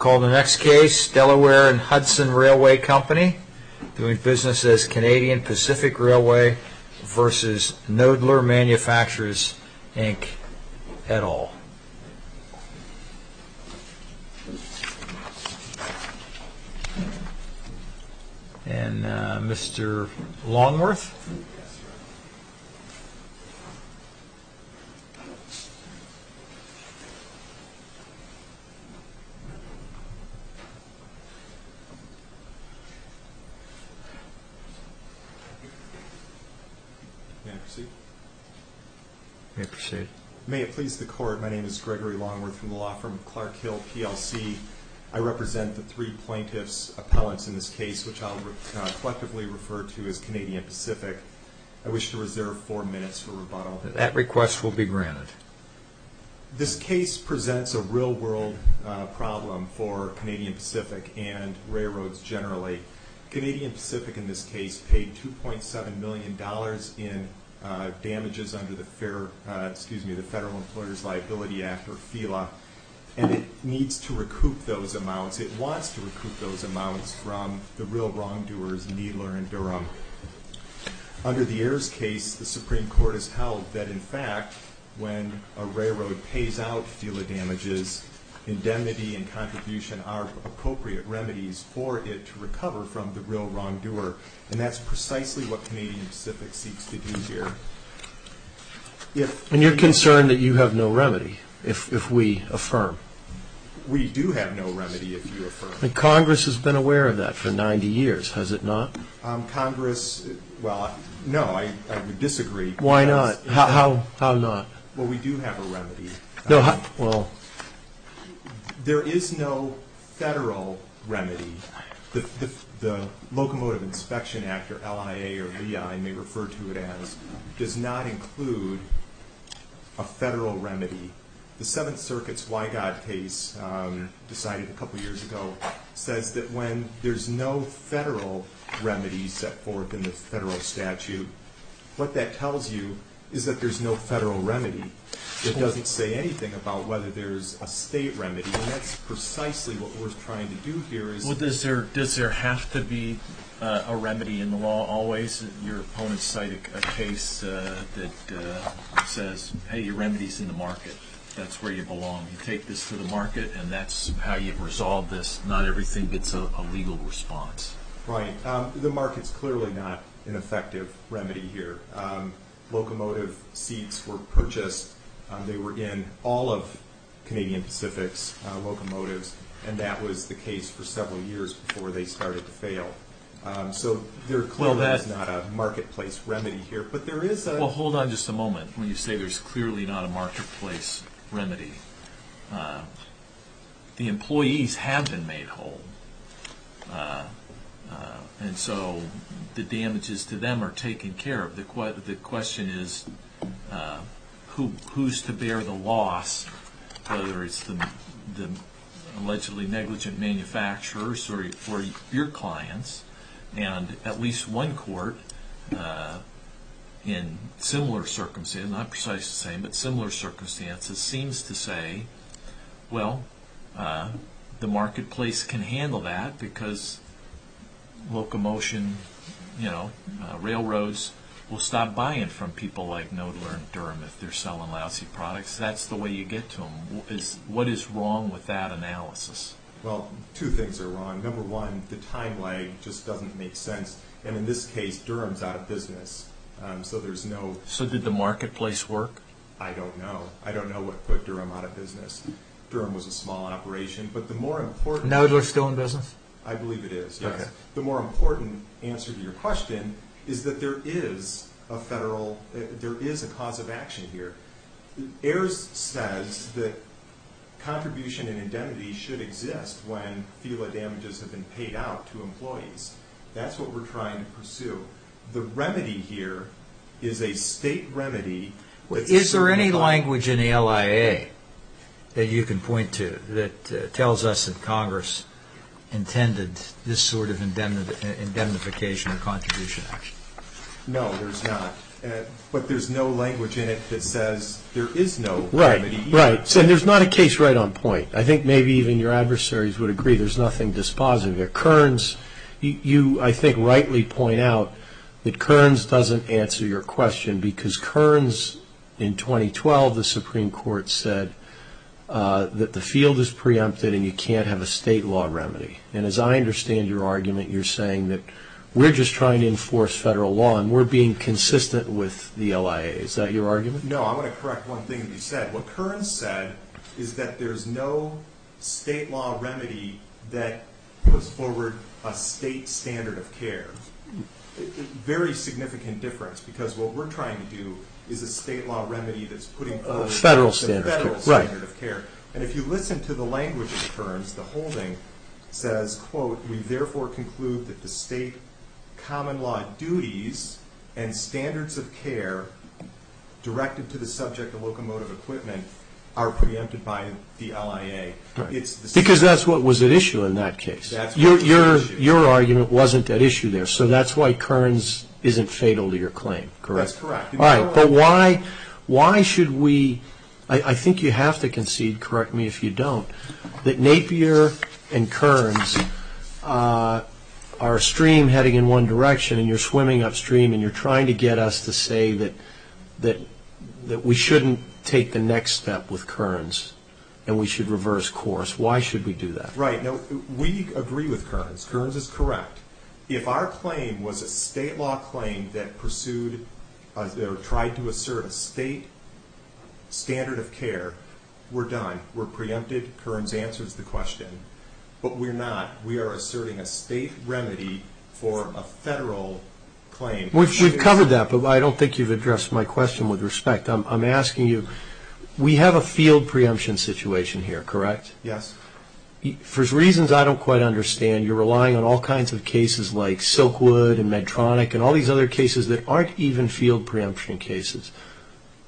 I call the next case Delaware & Hudson Railway Company doing business as Canadian Pacific Railway v. Knoedler Manufacturers, Inc, et al. And Mr. Longworth. May it please the court, my name is Gregory Longworth from the law firm Clark Hill, PLC. I represent the three plaintiffs' appellants in this case, which I'll collectively refer to as Canadian Pacific. I wish to reserve four minutes for rebuttal. That request will be granted. This case presents a real-world problem for Canadian Pacific and railroads generally. Canadian Pacific in this case paid $2.7 million in damages under the Federal Employer's Liability Act, or FELA, and it needs to recoup those amounts. It wants to recoup those amounts from the real wrongdoers, Knoedler and Durham. Under the Ayers case, the Supreme Court has held that, in fact, when a railroad pays out FELA damages, indemnity and contribution are appropriate remedies for it to recover from the real wrongdoer, and that's precisely what Canadian Pacific seeks to do here. And you're concerned that you have no remedy, if we affirm? We do have no remedy, if you affirm. Congress has been aware of that for 90 years, has it not? Congress, well, no, I would disagree. Why not? How not? Well, we do have a remedy. Well... There is no federal remedy. The Locomotive Inspection Act, or LIA or VI, I may refer to it as, does not include a federal remedy. The Seventh Circuit's Wygod case, decided a couple years ago, says that when there's no federal remedy set forth in the federal statute, what that tells you is that there's no federal remedy. It doesn't say anything about whether there's a state remedy, and that's precisely what we're trying to do here. Well, does there have to be a remedy in the law always? Your opponents cite a case that says, hey, your remedy's in the market. That's where you belong. You take this to the market, and that's how you resolve this. Not everything gets a legal response. Right. The market's clearly not an effective remedy here. Locomotive seats were purchased. They were in all of Canadian Pacific's locomotives, and that was the case for several years before they started to fail. So there clearly is not a marketplace remedy here, but there is a... Well, hold on just a moment when you say there's clearly not a marketplace remedy. The employees have been made whole, and so the damages to them are taken care of. The question is who's to bear the loss, whether it's the allegedly negligent manufacturers or your clients. And at least one court in similar circumstances, not precisely the same, but similar circumstances, seems to say, well, the marketplace can handle that because locomotion, you know, railroads will stop buying from people like Knoedler and Durham if they're selling lousy products. That's the way you get to them. What is wrong with that analysis? Well, two things are wrong. Number one, the time lag just doesn't make sense. And in this case, Durham's out of business, so there's no... So did the marketplace work? I don't know. I don't know what put Durham out of business. Durham was a small operation, but the more important... Knoedler's still in business? I believe it is, yes. Okay. The more important answer to your question is that there is a federal... there is a cause of action here. Ayers says that contribution and indemnity should exist when FILA damages have been paid out to employees. That's what we're trying to pursue. The remedy here is a state remedy... Is there any language in the LIA that you can point to that tells us that Congress intended this sort of indemnification or contribution action? No, there's not. But there's no language in it that says there is no remedy. Right, right. And there's not a case right on point. I think maybe even your adversaries would agree there's nothing dispositive here. You, I think, rightly point out that Kearns doesn't answer your question because Kearns, in 2012, the Supreme Court said that the field is preempted and you can't have a state law remedy. And as I understand your argument, you're saying that we're just trying to enforce federal law and we're being consistent with the LIA. Is that your argument? No, I want to correct one thing that you said. What Kearns said is that there's no state law remedy that puts forward a state standard of care. Very significant difference because what we're trying to do is a state law remedy that's putting forward a federal standard of care. And if you listen to the language of Kearns, the holding says, quote, we therefore conclude that the state common law duties and standards of care directed to the subject of locomotive equipment are preempted by the LIA. Because that's what was at issue in that case. Your argument wasn't at issue there. So that's why Kearns isn't fatal to your claim, correct? That's correct. But why should we, I think you have to concede, correct me if you don't, that Napier and Kearns are a stream heading in one direction and you're swimming upstream and you're trying to get us to say that we shouldn't take the next step with Kearns and we should reverse course. Why should we do that? Right. We agree with Kearns. Kearns is correct. If our claim was a state law claim that pursued or tried to assert a state standard of care, we're done. We're preempted. Kearns answers the question. But we're not. We are asserting a state remedy for a federal claim. We've covered that, but I don't think you've addressed my question with respect. I'm asking you, we have a field preemption situation here, correct? Yes. For reasons I don't quite understand, you're relying on all kinds of cases like Silkwood and Medtronic and all these other cases that aren't even field preemption cases,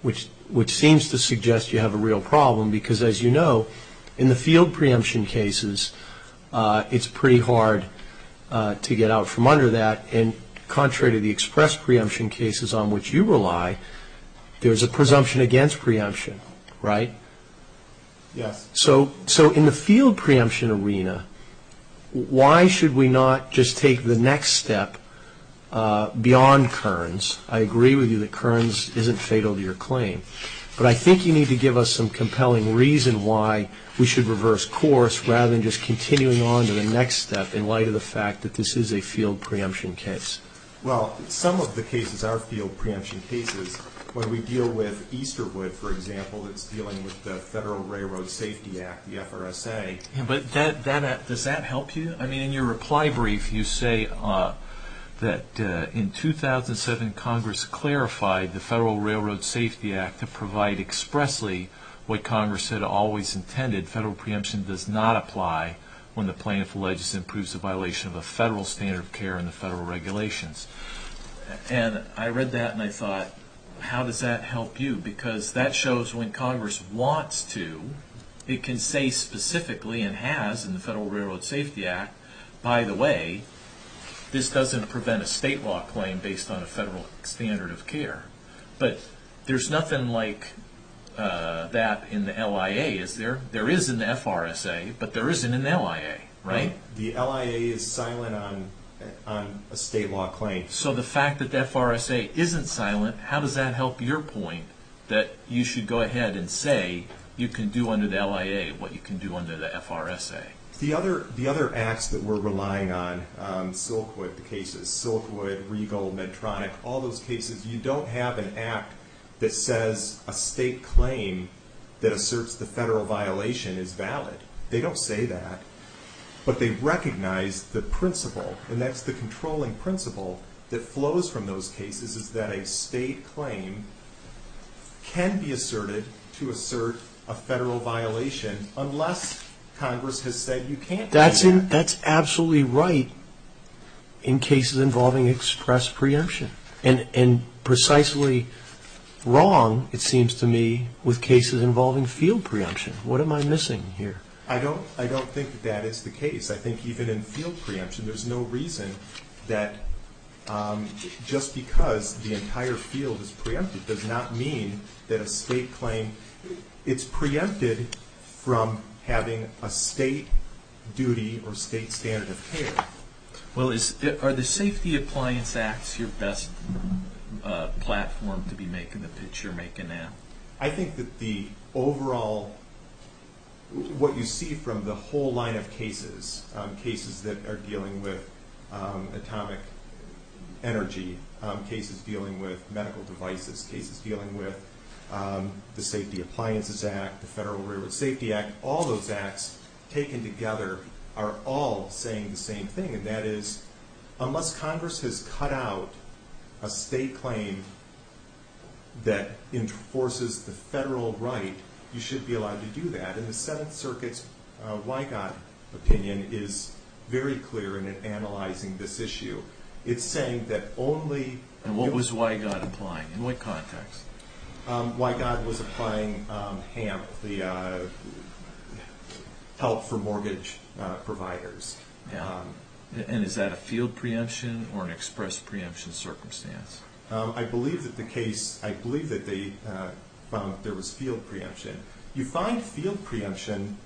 which seems to suggest you have a real problem because as you know, in the field preemption cases, it's pretty hard to get out from under that and contrary to the express preemption cases on which you rely, there's a presumption against preemption, right? Yes. So in the field preemption arena, why should we not just take the next step beyond Kearns? I agree with you that Kearns isn't fatal to your claim, but I think you need to give us some compelling reason why we should reverse course rather than just continuing on to the next step in light of the fact that this is a field preemption case. Well, some of the cases are field preemption cases. When we deal with Easterwood, for example, that's dealing with the Federal Railroad Safety Act, the FRSA. Does that help you? I mean, in your reply brief, you say that in 2007, Congress clarified the Federal Railroad Safety Act to provide expressly what Congress had always intended. Federal preemption does not apply when the plaintiff alleges and proves a violation of a federal standard of care in the federal regulations. And I read that and I thought, how does that help you? Because that shows when Congress wants to, it can say specifically and has in the Federal Railroad Safety Act, by the way, this doesn't prevent a state law claim based on a federal standard of care. But there's nothing like that in the LIA, is there? There is an FRSA, but there isn't an LIA, right? The LIA is silent on a state law claim. So the fact that the FRSA isn't silent, how does that help your point that you should go ahead and say you can do under the LIA what you can do under the FRSA? The other acts that we're relying on, Silkwood cases, Silkwood, Regal, Medtronic, all those cases, you don't have an act that says a state claim that asserts the federal violation is valid. They don't say that, but they recognize the principle, and that's the controlling principle that flows from those cases is that a state claim can be asserted to assert a federal violation unless Congress has said you can't do that. That's absolutely right in cases involving express preemption. And precisely wrong, it seems to me, with cases involving field preemption. What am I missing here? I don't think that that is the case. I think even in field preemption, there's no reason that just because the entire field is preempted does not mean that a state claim, it's preempted from having a state duty or state standard of care. Well, are the Safety Appliance Acts your best platform to be making the pitch you're making now? I think that the overall, what you see from the whole line of cases, cases that are dealing with atomic energy, cases dealing with medical devices, cases dealing with the Safety Appliances Act, the Federal Railroad Safety Act, all those acts taken together are all saying the same thing. And that is, unless Congress has cut out a state claim that enforces the federal right, you should be allowed to do that. And the Seventh Circuit's Wygott opinion is very clear in analyzing this issue. It's saying that only— And what was Wygott applying? In what context? Wygott was applying HAMP, the Help for Mortgage Providers. And is that a field preemption or an express preemption circumstance? I believe that the case—I believe that they found that there was field preemption. You find field preemption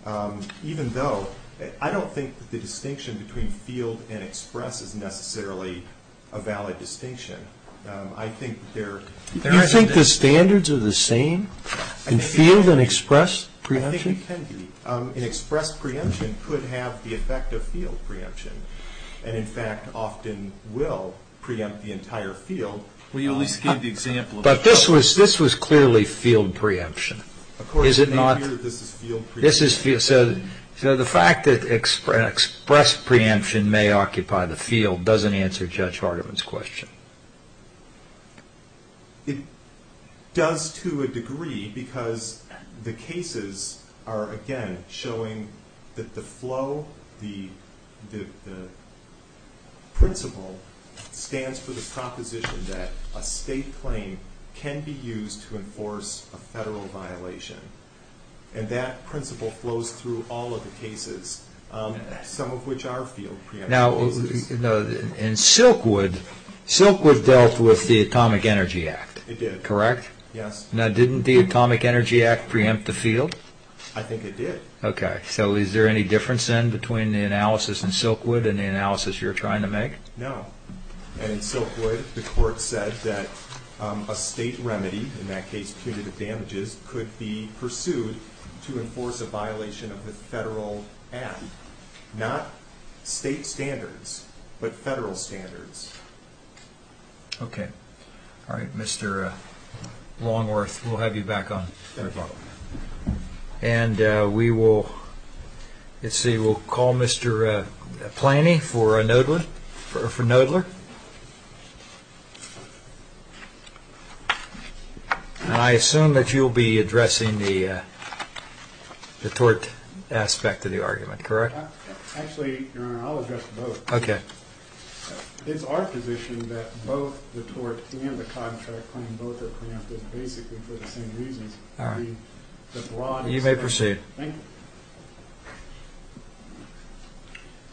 even though—I don't think that the distinction between field and express is necessarily a valid distinction. Do you think the standards are the same in field and express preemption? I think it can be. An express preemption could have the effect of field preemption and, in fact, often will preempt the entire field. Well, you at least gave the example of— But this was clearly field preemption. Of course, it may appear that this is field preemption. So the fact that express preemption may occupy the field doesn't answer Judge Hardiman's question. It does to a degree because the cases are, again, showing that the flow, the principle, stands for the proposition that a state claim can be used to enforce a federal violation. And that principle flows through all of the cases, some of which are field preemption cases. Now, in Silkwood, Silkwood dealt with the Atomic Energy Act. It did. Correct? Yes. Now, didn't the Atomic Energy Act preempt the field? I think it did. Okay. So is there any difference then between the analysis in Silkwood and the analysis you're trying to make? No. In Silkwood, the court said that a state remedy, in that case punitive damages, could be pursued to enforce a violation of the federal act. Not state standards, but federal standards. Okay. All right, Mr. Longworth, we'll have you back on. Thank you. And we will call Mr. Plany for Knoedler. And I assume that you'll be addressing the tort aspect of the argument, correct? Actually, Your Honor, I'll address both. Okay. It's our position that both the tort and the contract claim both are preemptive, basically for the same reasons. All right. You may proceed. Thank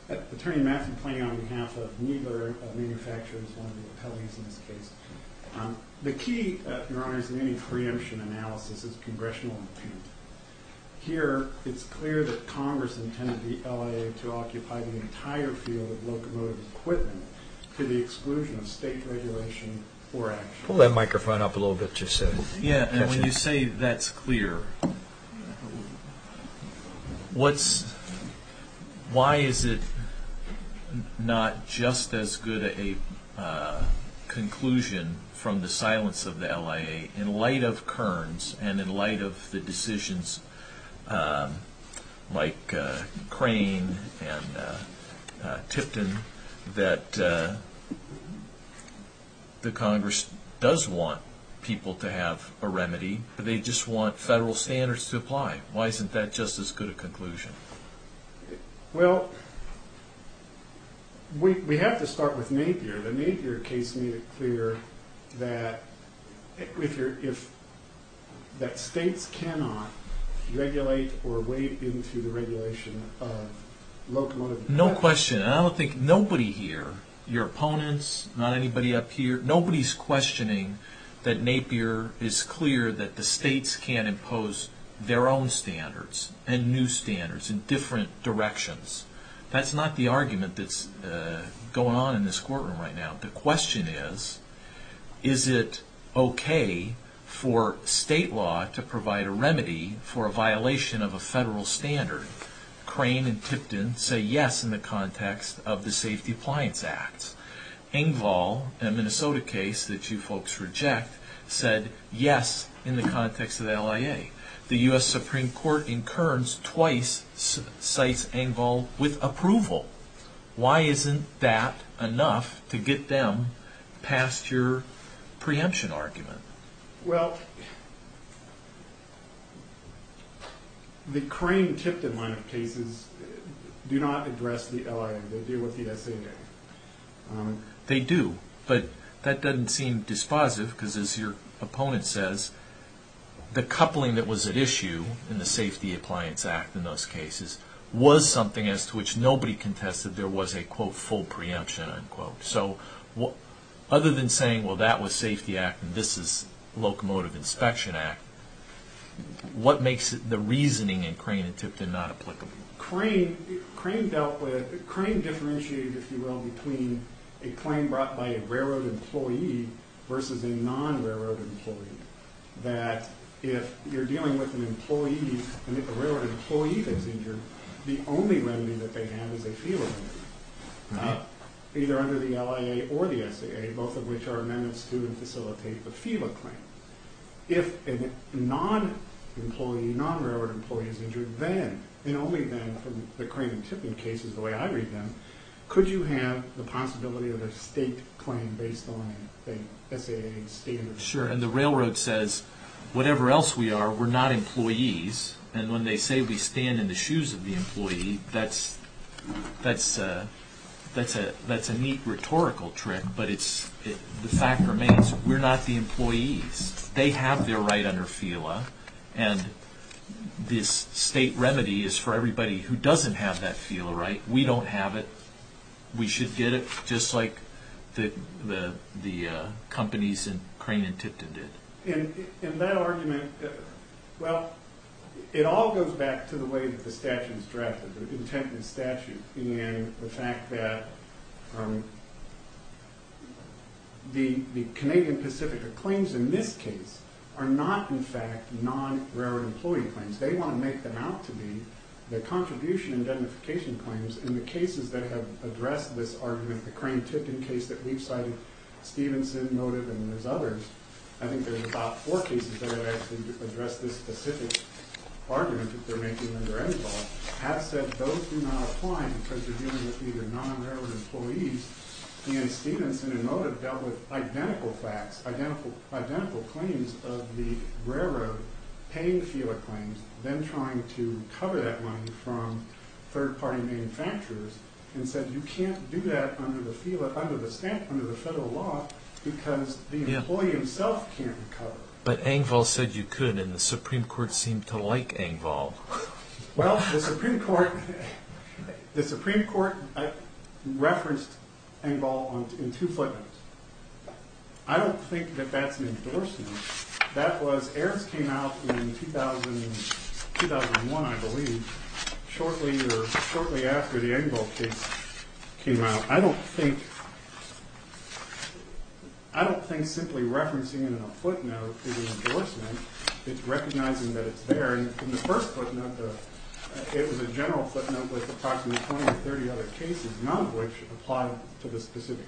you. Attorney Matthew Plany, on behalf of Knoedler Manufacturing, is one of the appellees in this case. The key, Your Honor, in any preemption analysis is congressional intent. Here, it's clear that Congress intended the LIA to occupy the entire field of locomotive equipment to the exclusion of state regulation or action. Pull that microphone up a little bit, you said. Yeah, and when you say that's clear, why is it not just as good a conclusion from the silence of the LIA in light of Kearns and in light of the decisions like Crane and Tipton that the Congress does want people to have a remedy, but they just want federal standards to apply? Why isn't that just as good a conclusion? Well, we have to start with Napier. The Napier case made it clear that states cannot regulate or wade into the regulation of locomotive equipment. No question. I don't think nobody here, your opponents, not anybody up here, nobody's questioning that Napier is clear that the states can't impose their own standards and new standards in different directions. That's not the argument that's going on in this courtroom right now. The question is, is it okay for state law to provide a remedy for a violation of a federal standard? Crane and Tipton say yes in the context of the Safety Appliance Act. Engvall, a Minnesota case that you folks reject, said yes in the context of the LIA. The U.S. Supreme Court in Kearns twice cites Engvall with approval. Why isn't that enough to get them past your preemption argument? Well, the Crane and Tipton line of cases do not address the LIA. They deal with the SAJ. They do, but that doesn't seem dispositive because, as your opponent says, the coupling that was at issue in the Safety Appliance Act in those cases was something as to which nobody contested there was a, quote, full preemption, unquote. Other than saying, well, that was Safety Act and this is Locomotive Inspection Act, what makes the reasoning in Crane and Tipton not applicable? Crane differentiated, if you will, between a claim brought by a railroad employee versus a non-railroad employee. That if you're dealing with a railroad employee that's injured, the only remedy that they have is a FELA claim, either under the LIA or the SAA, both of which are amendments to and facilitate the FELA claim. If a non-employee, non-railroad employee is injured, then and only then from the Crane and Tipton cases the way I read them, could you have the possibility of a state claim based on the SAA standards? Sure, and the railroad says, whatever else we are, we're not employees, and when they say we stand in the shoes of the employee, that's a neat rhetorical trick, but the fact remains we're not the employees. They have their right under FELA, and this state remedy is for everybody who doesn't have that FELA right. We don't have it. We should get it just like the companies in Crane and Tipton did. In that argument, well, it all goes back to the way that the statute is drafted, the intent of the statute, and the fact that the Canadian Pacific claims in this case are not, in fact, non-railroad employee claims. They want to make them out to be the contribution and identification claims in the cases that have addressed this argument, the Crane and Tipton case that we've cited, Stevenson, Motiv, and there's others. I think there's about four cases that have actually addressed this specific argument that they're making under any law, have said those do not apply because they're dealing with either non-railroad employees, and Stevenson and Motiv dealt with identical facts, identical claims of the railroad paying the FELA claims, then trying to cover that money from third-party manufacturers and said you can't do that under the FELA, under the statute, under the federal law because the employee himself can't cover. But Engvall said you could, and the Supreme Court seemed to like Engvall. Well, the Supreme Court referenced Engvall in two footnotes. I don't think that that's an endorsement. That was, errors came out in 2001, I believe, shortly after the Engvall case came out. I don't think simply referencing it in a footnote is an endorsement. It's recognizing that it's there. In the first footnote, it was a general footnote with approximately 20 or 30 other cases, none of which apply to the specific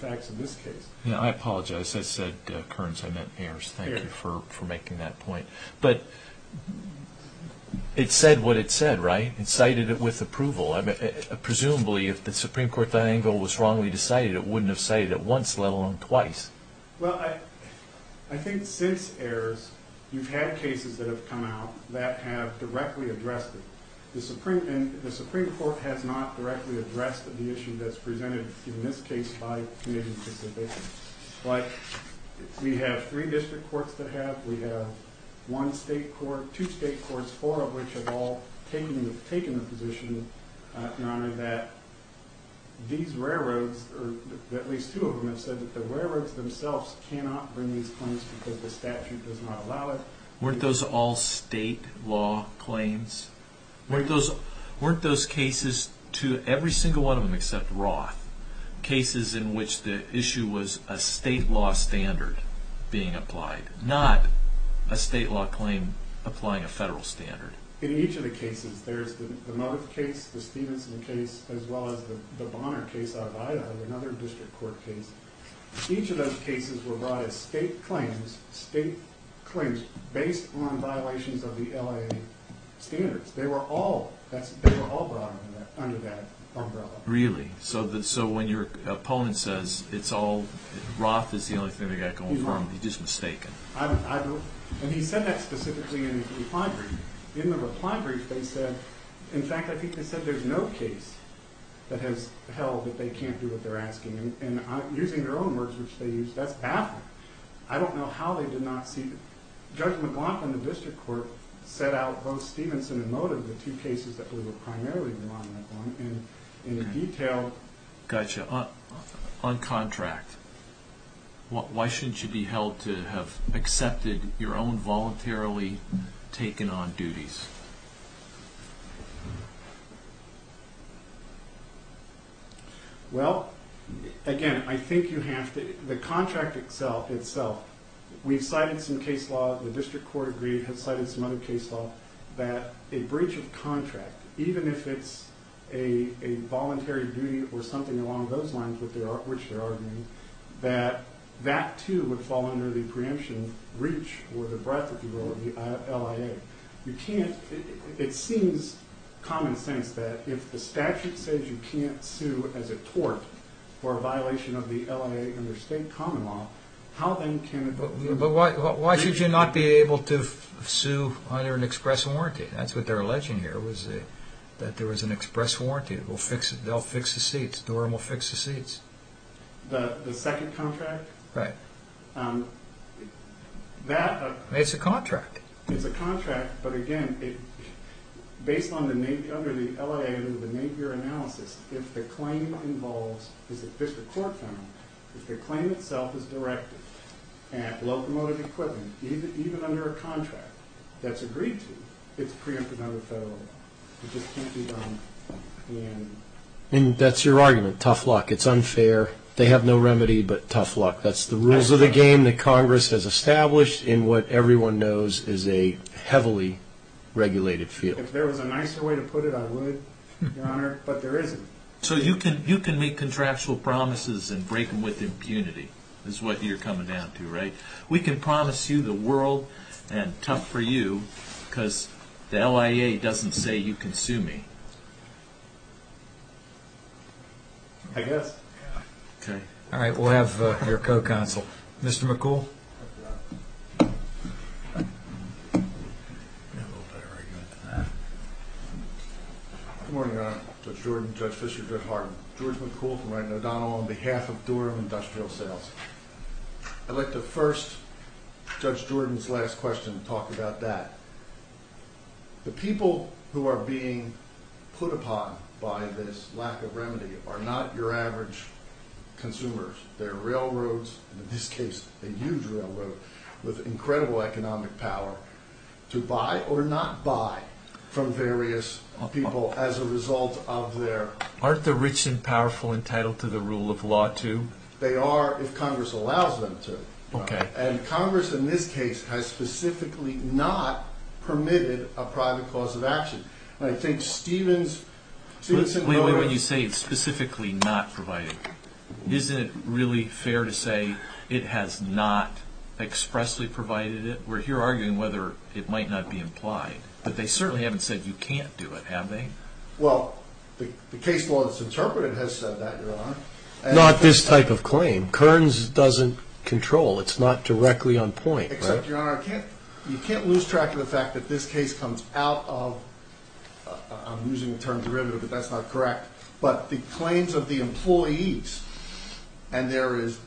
facts in this case. I apologize. I said, Kearns, I meant Ayers. Thank you for making that point. But it said what it said, right? It cited it with approval. Presumably, if the Supreme Court thought Engvall was wrongly decided, it wouldn't have cited it once, let alone twice. Well, I think since Ayers, you've had cases that have come out that have directly addressed it. The Supreme Court has not directly addressed the issue that's presented in this case by the committee specifically. But we have three district courts to have. We have one state court, two state courts, four of which have all taken the position, Your Honor, that these railroads, or at least two of them have said that the railroads themselves cannot bring these claims because the statute does not allow it. Weren't those all state law claims? Weren't those cases, every single one of them except Roth, cases in which the issue was a state law standard being applied, not a state law claim applying a federal standard? In each of the cases, there's the Moth case, the Stevenson case, as well as the Bonner case out of Idaho, another district court case. Each of those cases were brought as state claims based on violations of the LIA standards. They were all brought under that umbrella. Really? So when your opponent says Roth is the only thing they got going for them, he's just mistaken? And he said that specifically in his reply brief. In the reply brief, they said, in fact, I think they said there's no case that has held that they can't do what they're asking. And using their own words, which they used, that's baffling. I don't know how they did not see that. Judge McLaughlin, the district court, set out both Stevenson and Motive, one of the two cases that we were primarily relying on, and in detail. Gotcha. On contract, why shouldn't you be held to have accepted your own voluntarily taken on duties? Well, again, I think you have to, the contract itself, we've cited some case law, the district court agreed, has cited some other case law, that a breach of contract, even if it's a voluntary duty or something along those lines which they're arguing, that that too would fall under the preemption breach or the breadth, if you will, of the LIA. You can't, it seems common sense that if the statute says you can't sue as a tort for a violation of the LIA under state common law, But why should you not be able to sue under an express warranty? That's what they're alleging here, that there was an express warranty. They'll fix the seats, Durham will fix the seats. The second contract? Right. That... It's a contract. It's a contract, but again, based on the LIA analysis, if the claim involves, as the district court found, if the claim itself is directed at locomotive equipment, even under a contract that's agreed to, it's preempted under federal law. It just can't be done in... And that's your argument, tough luck, it's unfair, they have no remedy, but tough luck. That's the rules of the game that Congress has established in what everyone knows is a heavily regulated field. If there was a nicer way to put it, I would, Your Honor, but there isn't. So you can make contractual promises and break them with impunity, is what you're coming down to, right? We can promise you the world, and tough for you, because the LIA doesn't say you can sue me. I guess. All right, we'll have your co-counsel. Mr. McCool? Good morning, Your Honor. Judge Jordan, Judge Fischer, Judge Harden. George McCool from Wright and O'Donnell on behalf of Durham Industrial Sales. I'd like to first, Judge Jordan's last question, talk about that. The people who are being put upon by this lack of remedy are not your average consumers. There are railroads, in this case a huge railroad, with incredible economic power to buy or not buy from various people as a result of their… Aren't the rich and powerful entitled to the rule of law, too? They are if Congress allows them to. Okay. And Congress in this case has specifically not permitted a private cause of action. Wait a minute, when you say specifically not provided, isn't it really fair to say it has not expressly provided it? We're here arguing whether it might not be implied, but they certainly haven't said you can't do it, have they? Well, the case law that's interpreted has said that, Your Honor. Not this type of claim. Kearns doesn't control, it's not directly on point. Except, Your Honor, you can't lose track of the fact that this case comes out of – I'm using the term derivative, but that's not correct – but the claims of the employees. And there is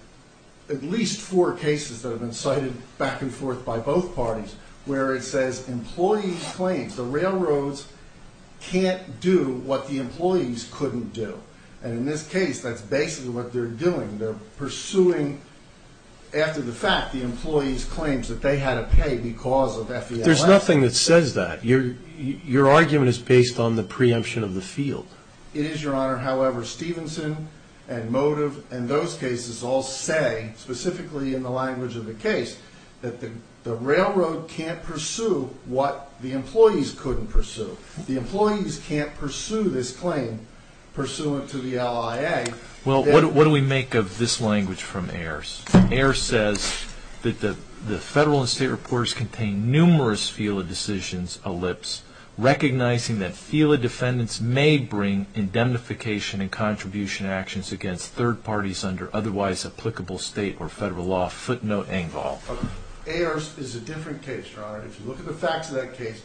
at least four cases that have been cited back and forth by both parties where it says employees' claims. The railroads can't do what the employees couldn't do. And in this case, that's basically what they're doing. They're pursuing, after the fact, the employees' claims that they had to pay because of FELA. There's nothing that says that. Your argument is based on the preemption of the field. It is, Your Honor. However, Stevenson and Motive and those cases all say, specifically in the language of the case, that the railroad can't pursue what the employees couldn't pursue. The employees can't pursue this claim pursuant to the LIA. Well, what do we make of this language from Ayers? Ayers says that the federal and state reports contain numerous FELA decisions, ellipse, recognizing that FELA defendants may bring indemnification and contribution actions against third parties under otherwise applicable state or federal law. Footnote, Engvall. Ayers is a different case, Your Honor. If you look at the facts of that case,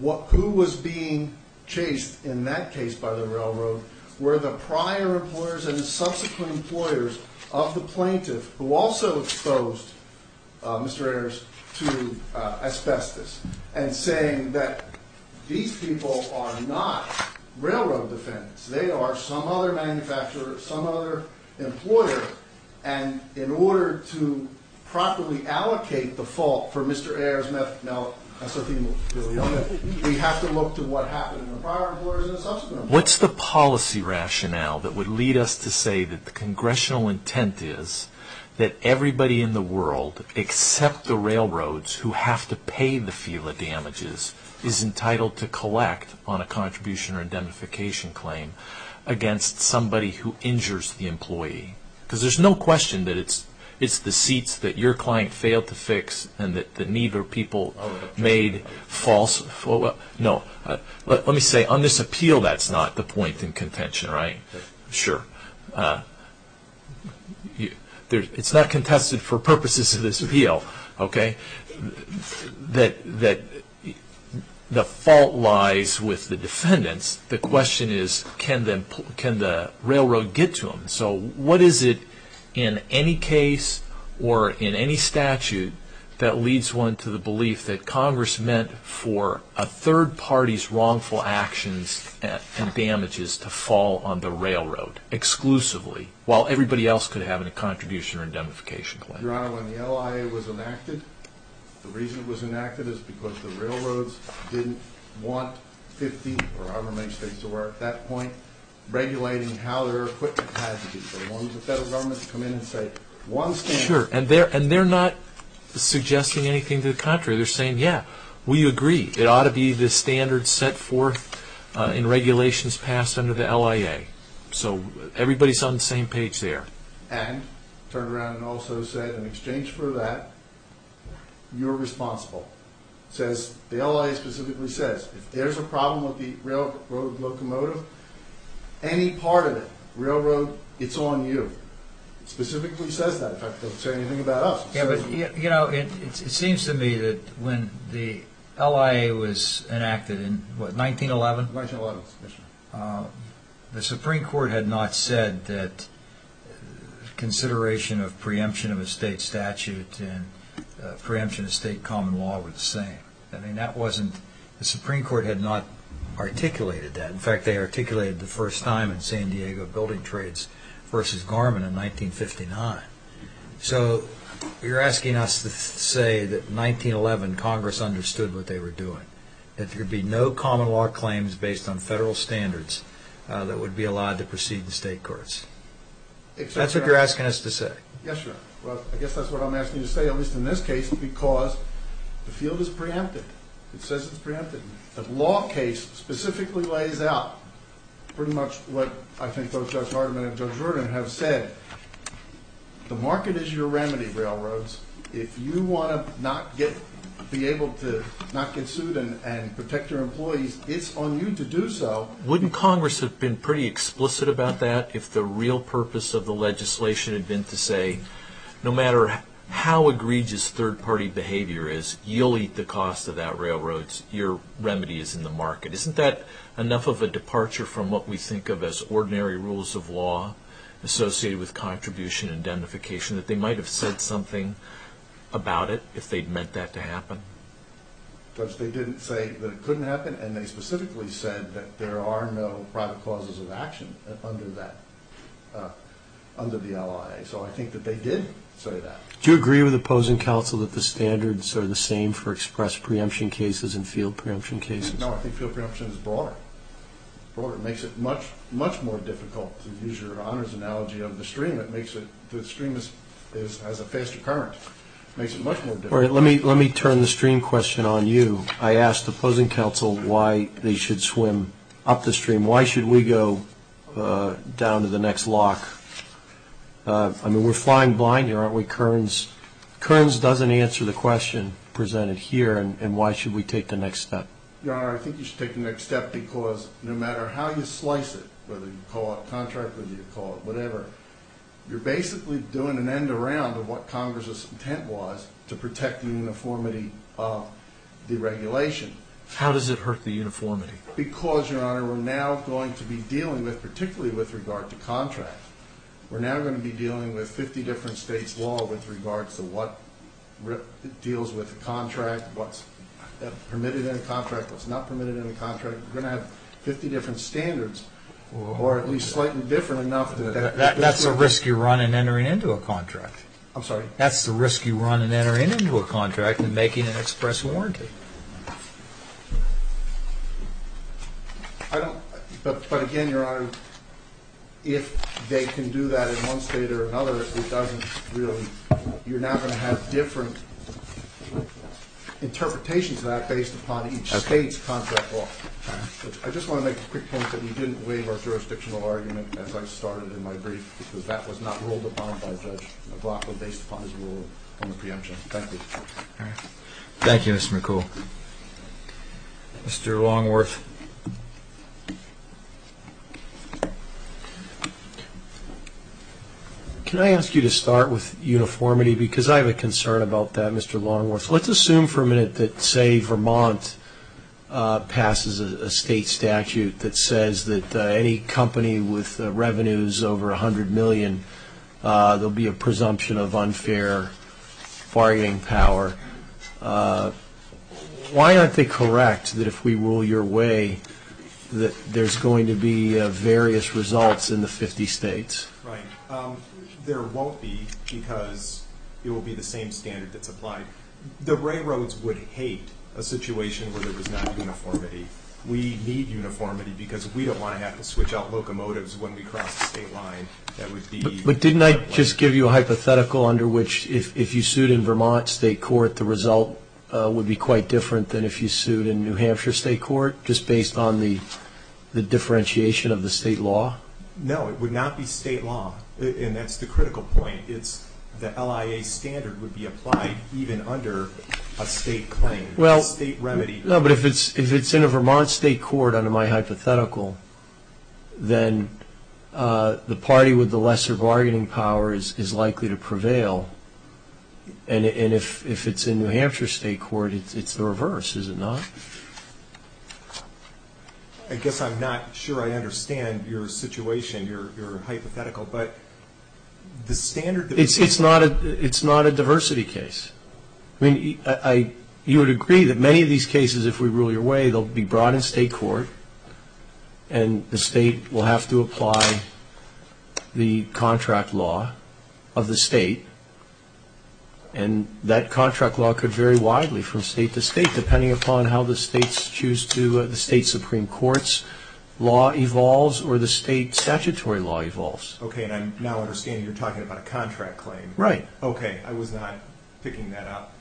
who was being chased in that case by the railroad were the prior employers and the subsequent employers of the plaintiff who also exposed Mr. Ayers to asbestos and saying that these people are not railroad defendants. They are some other manufacturer, some other employer. And in order to properly allocate the fault for Mr. Ayers, we have to look to what happened to the prior employers and the subsequent employers. What's the policy rationale that would lead us to say that the congressional intent is that everybody in the world except the railroads who have to pay the FELA damages is entitled to collect on a contribution or indemnification claim against somebody who injures the employee? Because there's no question that it's the seats that your client failed to fix and that neither people made false. No, let me say on this appeal, that's not the point in contention, right? Sure. It's not contested for purposes of this appeal, okay? The fault lies with the defendants. The question is, can the railroad get to them? So what is it in any case or in any statute that leads one to the belief that Congress meant for a third party's wrongful actions and damages to fall on the railroad exclusively while everybody else could have a contribution or indemnification claim? Your Honor, when the LIA was enacted, the reason it was enacted is because the railroads didn't want 50 or however many states there were at that point regulating how their equipment had to be. They wanted the federal government to come in and say, one standard... Sure, and they're not suggesting anything to the contrary. They're saying, yeah, we agree. It ought to be the standard set forth in regulations passed under the LIA. So everybody's on the same page there. And turn around and also say, in exchange for that, you're responsible. The LIA specifically says, if there's a problem with the railroad locomotive, any part of it, railroad, it's on you. It specifically says that. In fact, it doesn't say anything about us. It seems to me that when the LIA was enacted in 1911, the Supreme Court had not said that consideration of preemption of a state statute and preemption of state common law were the same. The Supreme Court had not articulated that. In fact, they articulated it the first time in San Diego Building Trades v. Garmin in 1959. So you're asking us to say that in 1911, Congress understood what they were doing, that there would be no common law claims based on federal standards that would be allowed to proceed in state courts. That's what you're asking us to say. Yes, sir. Well, I guess that's what I'm asking you to say, at least in this case, because the field is preemptive. It says it's preemptive. The law case specifically lays out pretty much what I think both Judge Hartman and Judge Rudin have said. The market is your remedy, railroads. If you want to be able to not get sued and protect your employees, it's on you to do so. Wouldn't Congress have been pretty explicit about that if the real purpose of the legislation had been to say, no matter how egregious third-party behavior is, you'll eat the cost of that railroad. Your remedy is in the market. Isn't that enough of a departure from what we think of as ordinary rules of law associated with contribution and identification, that they might have said something about it if they'd meant that to happen? Judge, they didn't say that it couldn't happen, and they specifically said that there are no private causes of action under the LIA. So I think that they did say that. Do you agree with the opposing counsel that the standards are the same for express preemption cases and field preemption cases? No, I think field preemption is broader. It makes it much, much more difficult to use your honors analogy of the stream. The stream has a faster current. It makes it much more difficult. Let me turn the stream question on you. I asked the opposing counsel why they should swim up the stream. Why should we go down to the next lock? I mean, we're flying blind here, aren't we, Kearns? Kearns doesn't answer the question presented here, and why should we take the next step? Your Honor, I think you should take the next step because no matter how you slice it, whether you call it contract, whether you call it whatever, you're basically doing an end around of what Congress's intent was to protect the uniformity of the regulation. How does it hurt the uniformity? Because, Your Honor, we're now going to be dealing with, particularly with regard to contract, we're now going to be dealing with 50 different states' law with regards to what deals with the contract, what's permitted in a contract, what's not permitted in a contract. We're going to have 50 different standards, or at least slightly different enough. That's the risk you run in entering into a contract. I'm sorry? I don't, but again, Your Honor, if they can do that in one state or another, it doesn't really, you're now going to have different interpretations of that based upon each state's contract law. I just want to make a quick point that we didn't waive our jurisdictional argument as I started in my brief because that was not ruled upon by Judge McLaughlin based upon his rule on the preemption. Thank you. Thank you, Mr. McCool. Mr. Longworth? Can I ask you to start with uniformity? Because I have a concern about that, Mr. Longworth. Let's assume for a minute that, say, Vermont passes a state statute that says that any company with revenues over $100 million, there will be a presumption of unfair bargaining power. Why aren't they correct that if we rule your way that there's going to be various results in the 50 states? Right. There won't be because it will be the same standard that's applied. The railroads would hate a situation where there was not uniformity. We need uniformity because we don't want to have to switch out locomotives when we cross the state line. But didn't I just give you a hypothetical under which if you sued in Vermont state court, the result would be quite different than if you sued in New Hampshire state court, just based on the differentiation of the state law? No, it would not be state law, and that's the critical point. The LIA standard would be applied even under a state claim, a state remedy. No, but if it's in a Vermont state court, under my hypothetical, then the party with the lesser bargaining power is likely to prevail. And if it's in New Hampshire state court, it's the reverse, is it not? I guess I'm not sure I understand your situation, your hypothetical, but the standard that we use. It's not a diversity case. I mean, you would agree that many of these cases, if we rule your way, they'll be brought in state court, and the state will have to apply the contract law of the state, and that contract law could vary widely from state to state, depending upon how the state's Supreme Court's law evolves or the state statutory law evolves. Okay, and I now understand you're talking about a contract claim. Right. Okay, I was not picking that up.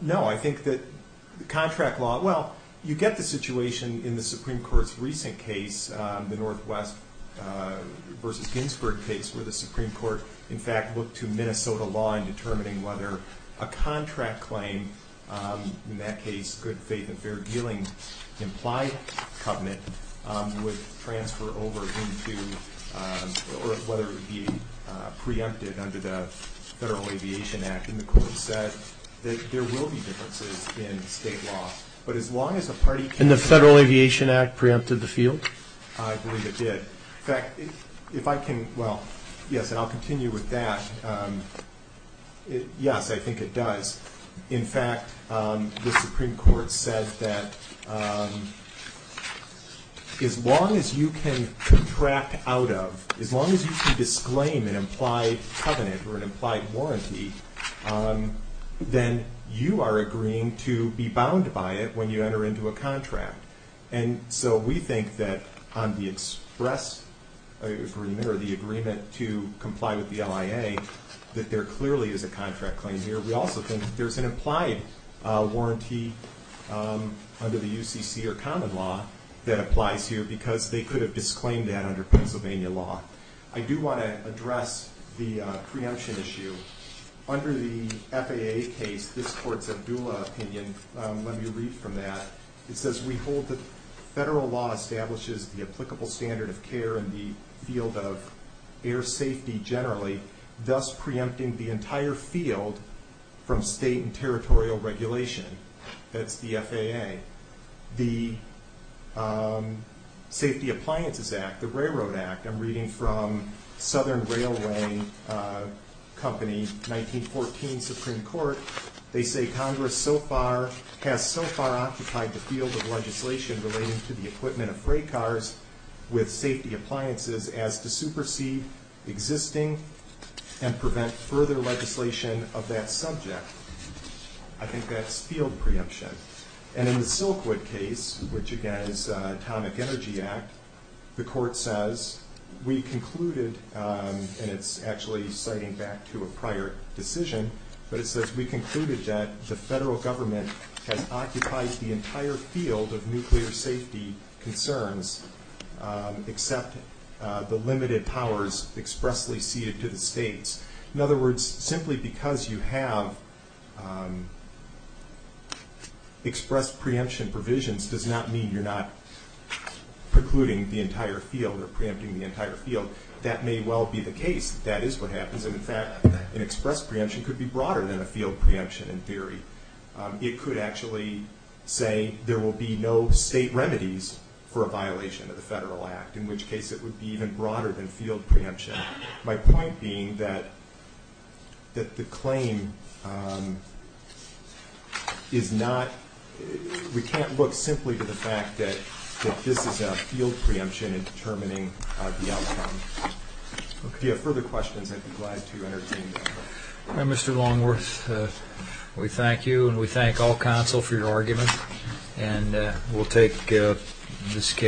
No, I think that the contract law, well, you get the situation in the Supreme Court's recent case, the Northwest v. Ginsburg case, where the Supreme Court in fact looked to Minnesota law in determining whether a contract claim, in that case good faith and fair dealing implied covenant, would transfer over into, or whether it would be preempted under the Federal Aviation Act, and the court said that there will be differences in state law, but as long as a party can... And the Federal Aviation Act preempted the field? I believe it did. In fact, if I can, well, yes, and I'll continue with that. Yes, I think it does. In fact, the Supreme Court said that as long as you can contract out of, as long as you can disclaim an implied covenant or an implied warranty, then you are agreeing to be bound by it when you enter into a contract. And so we think that on the express agreement or the agreement to comply with the LIA, we think that there clearly is a contract claim here. We also think that there's an implied warranty under the UCC or common law that applies here because they could have disclaimed that under Pennsylvania law. I do want to address the preemption issue. Under the FAA case, this court's Abdullah opinion, let me read from that. It says, We hold that federal law establishes the applicable standard of care in the field of air safety generally, thus preempting the entire field from state and territorial regulation. That's the FAA. The Safety Appliances Act, the Railroad Act, I'm reading from Southern Railway Company, 1914 Supreme Court. They say, Congress has so far occupied the field of legislation relating to the equipment of freight cars with safety appliances as to supersede existing and prevent further legislation of that subject. I think that's field preemption. And in the Silkwood case, which, again, is Atomic Energy Act, the court says, We concluded, and it's actually citing back to a prior decision, but it says, We concluded that the federal government has occupied the entire field of nuclear safety concerns except the limited powers expressly ceded to the states. In other words, simply because you have expressed preemption provisions does not mean you're not precluding the entire field or preempting the entire field. That may well be the case. That is what happens. In fact, an expressed preemption could be broader than a field preemption in theory. It could actually say there will be no state remedies for a violation of the federal act, in which case it would be even broader than field preemption. My point being that the claim is not, we can't look simply to the fact that this is a field preemption in determining the outcome. If you have further questions, I'd be glad to entertain them. Mr. Longworth, we thank you, and we thank all counsel for your argument. And we'll take this case.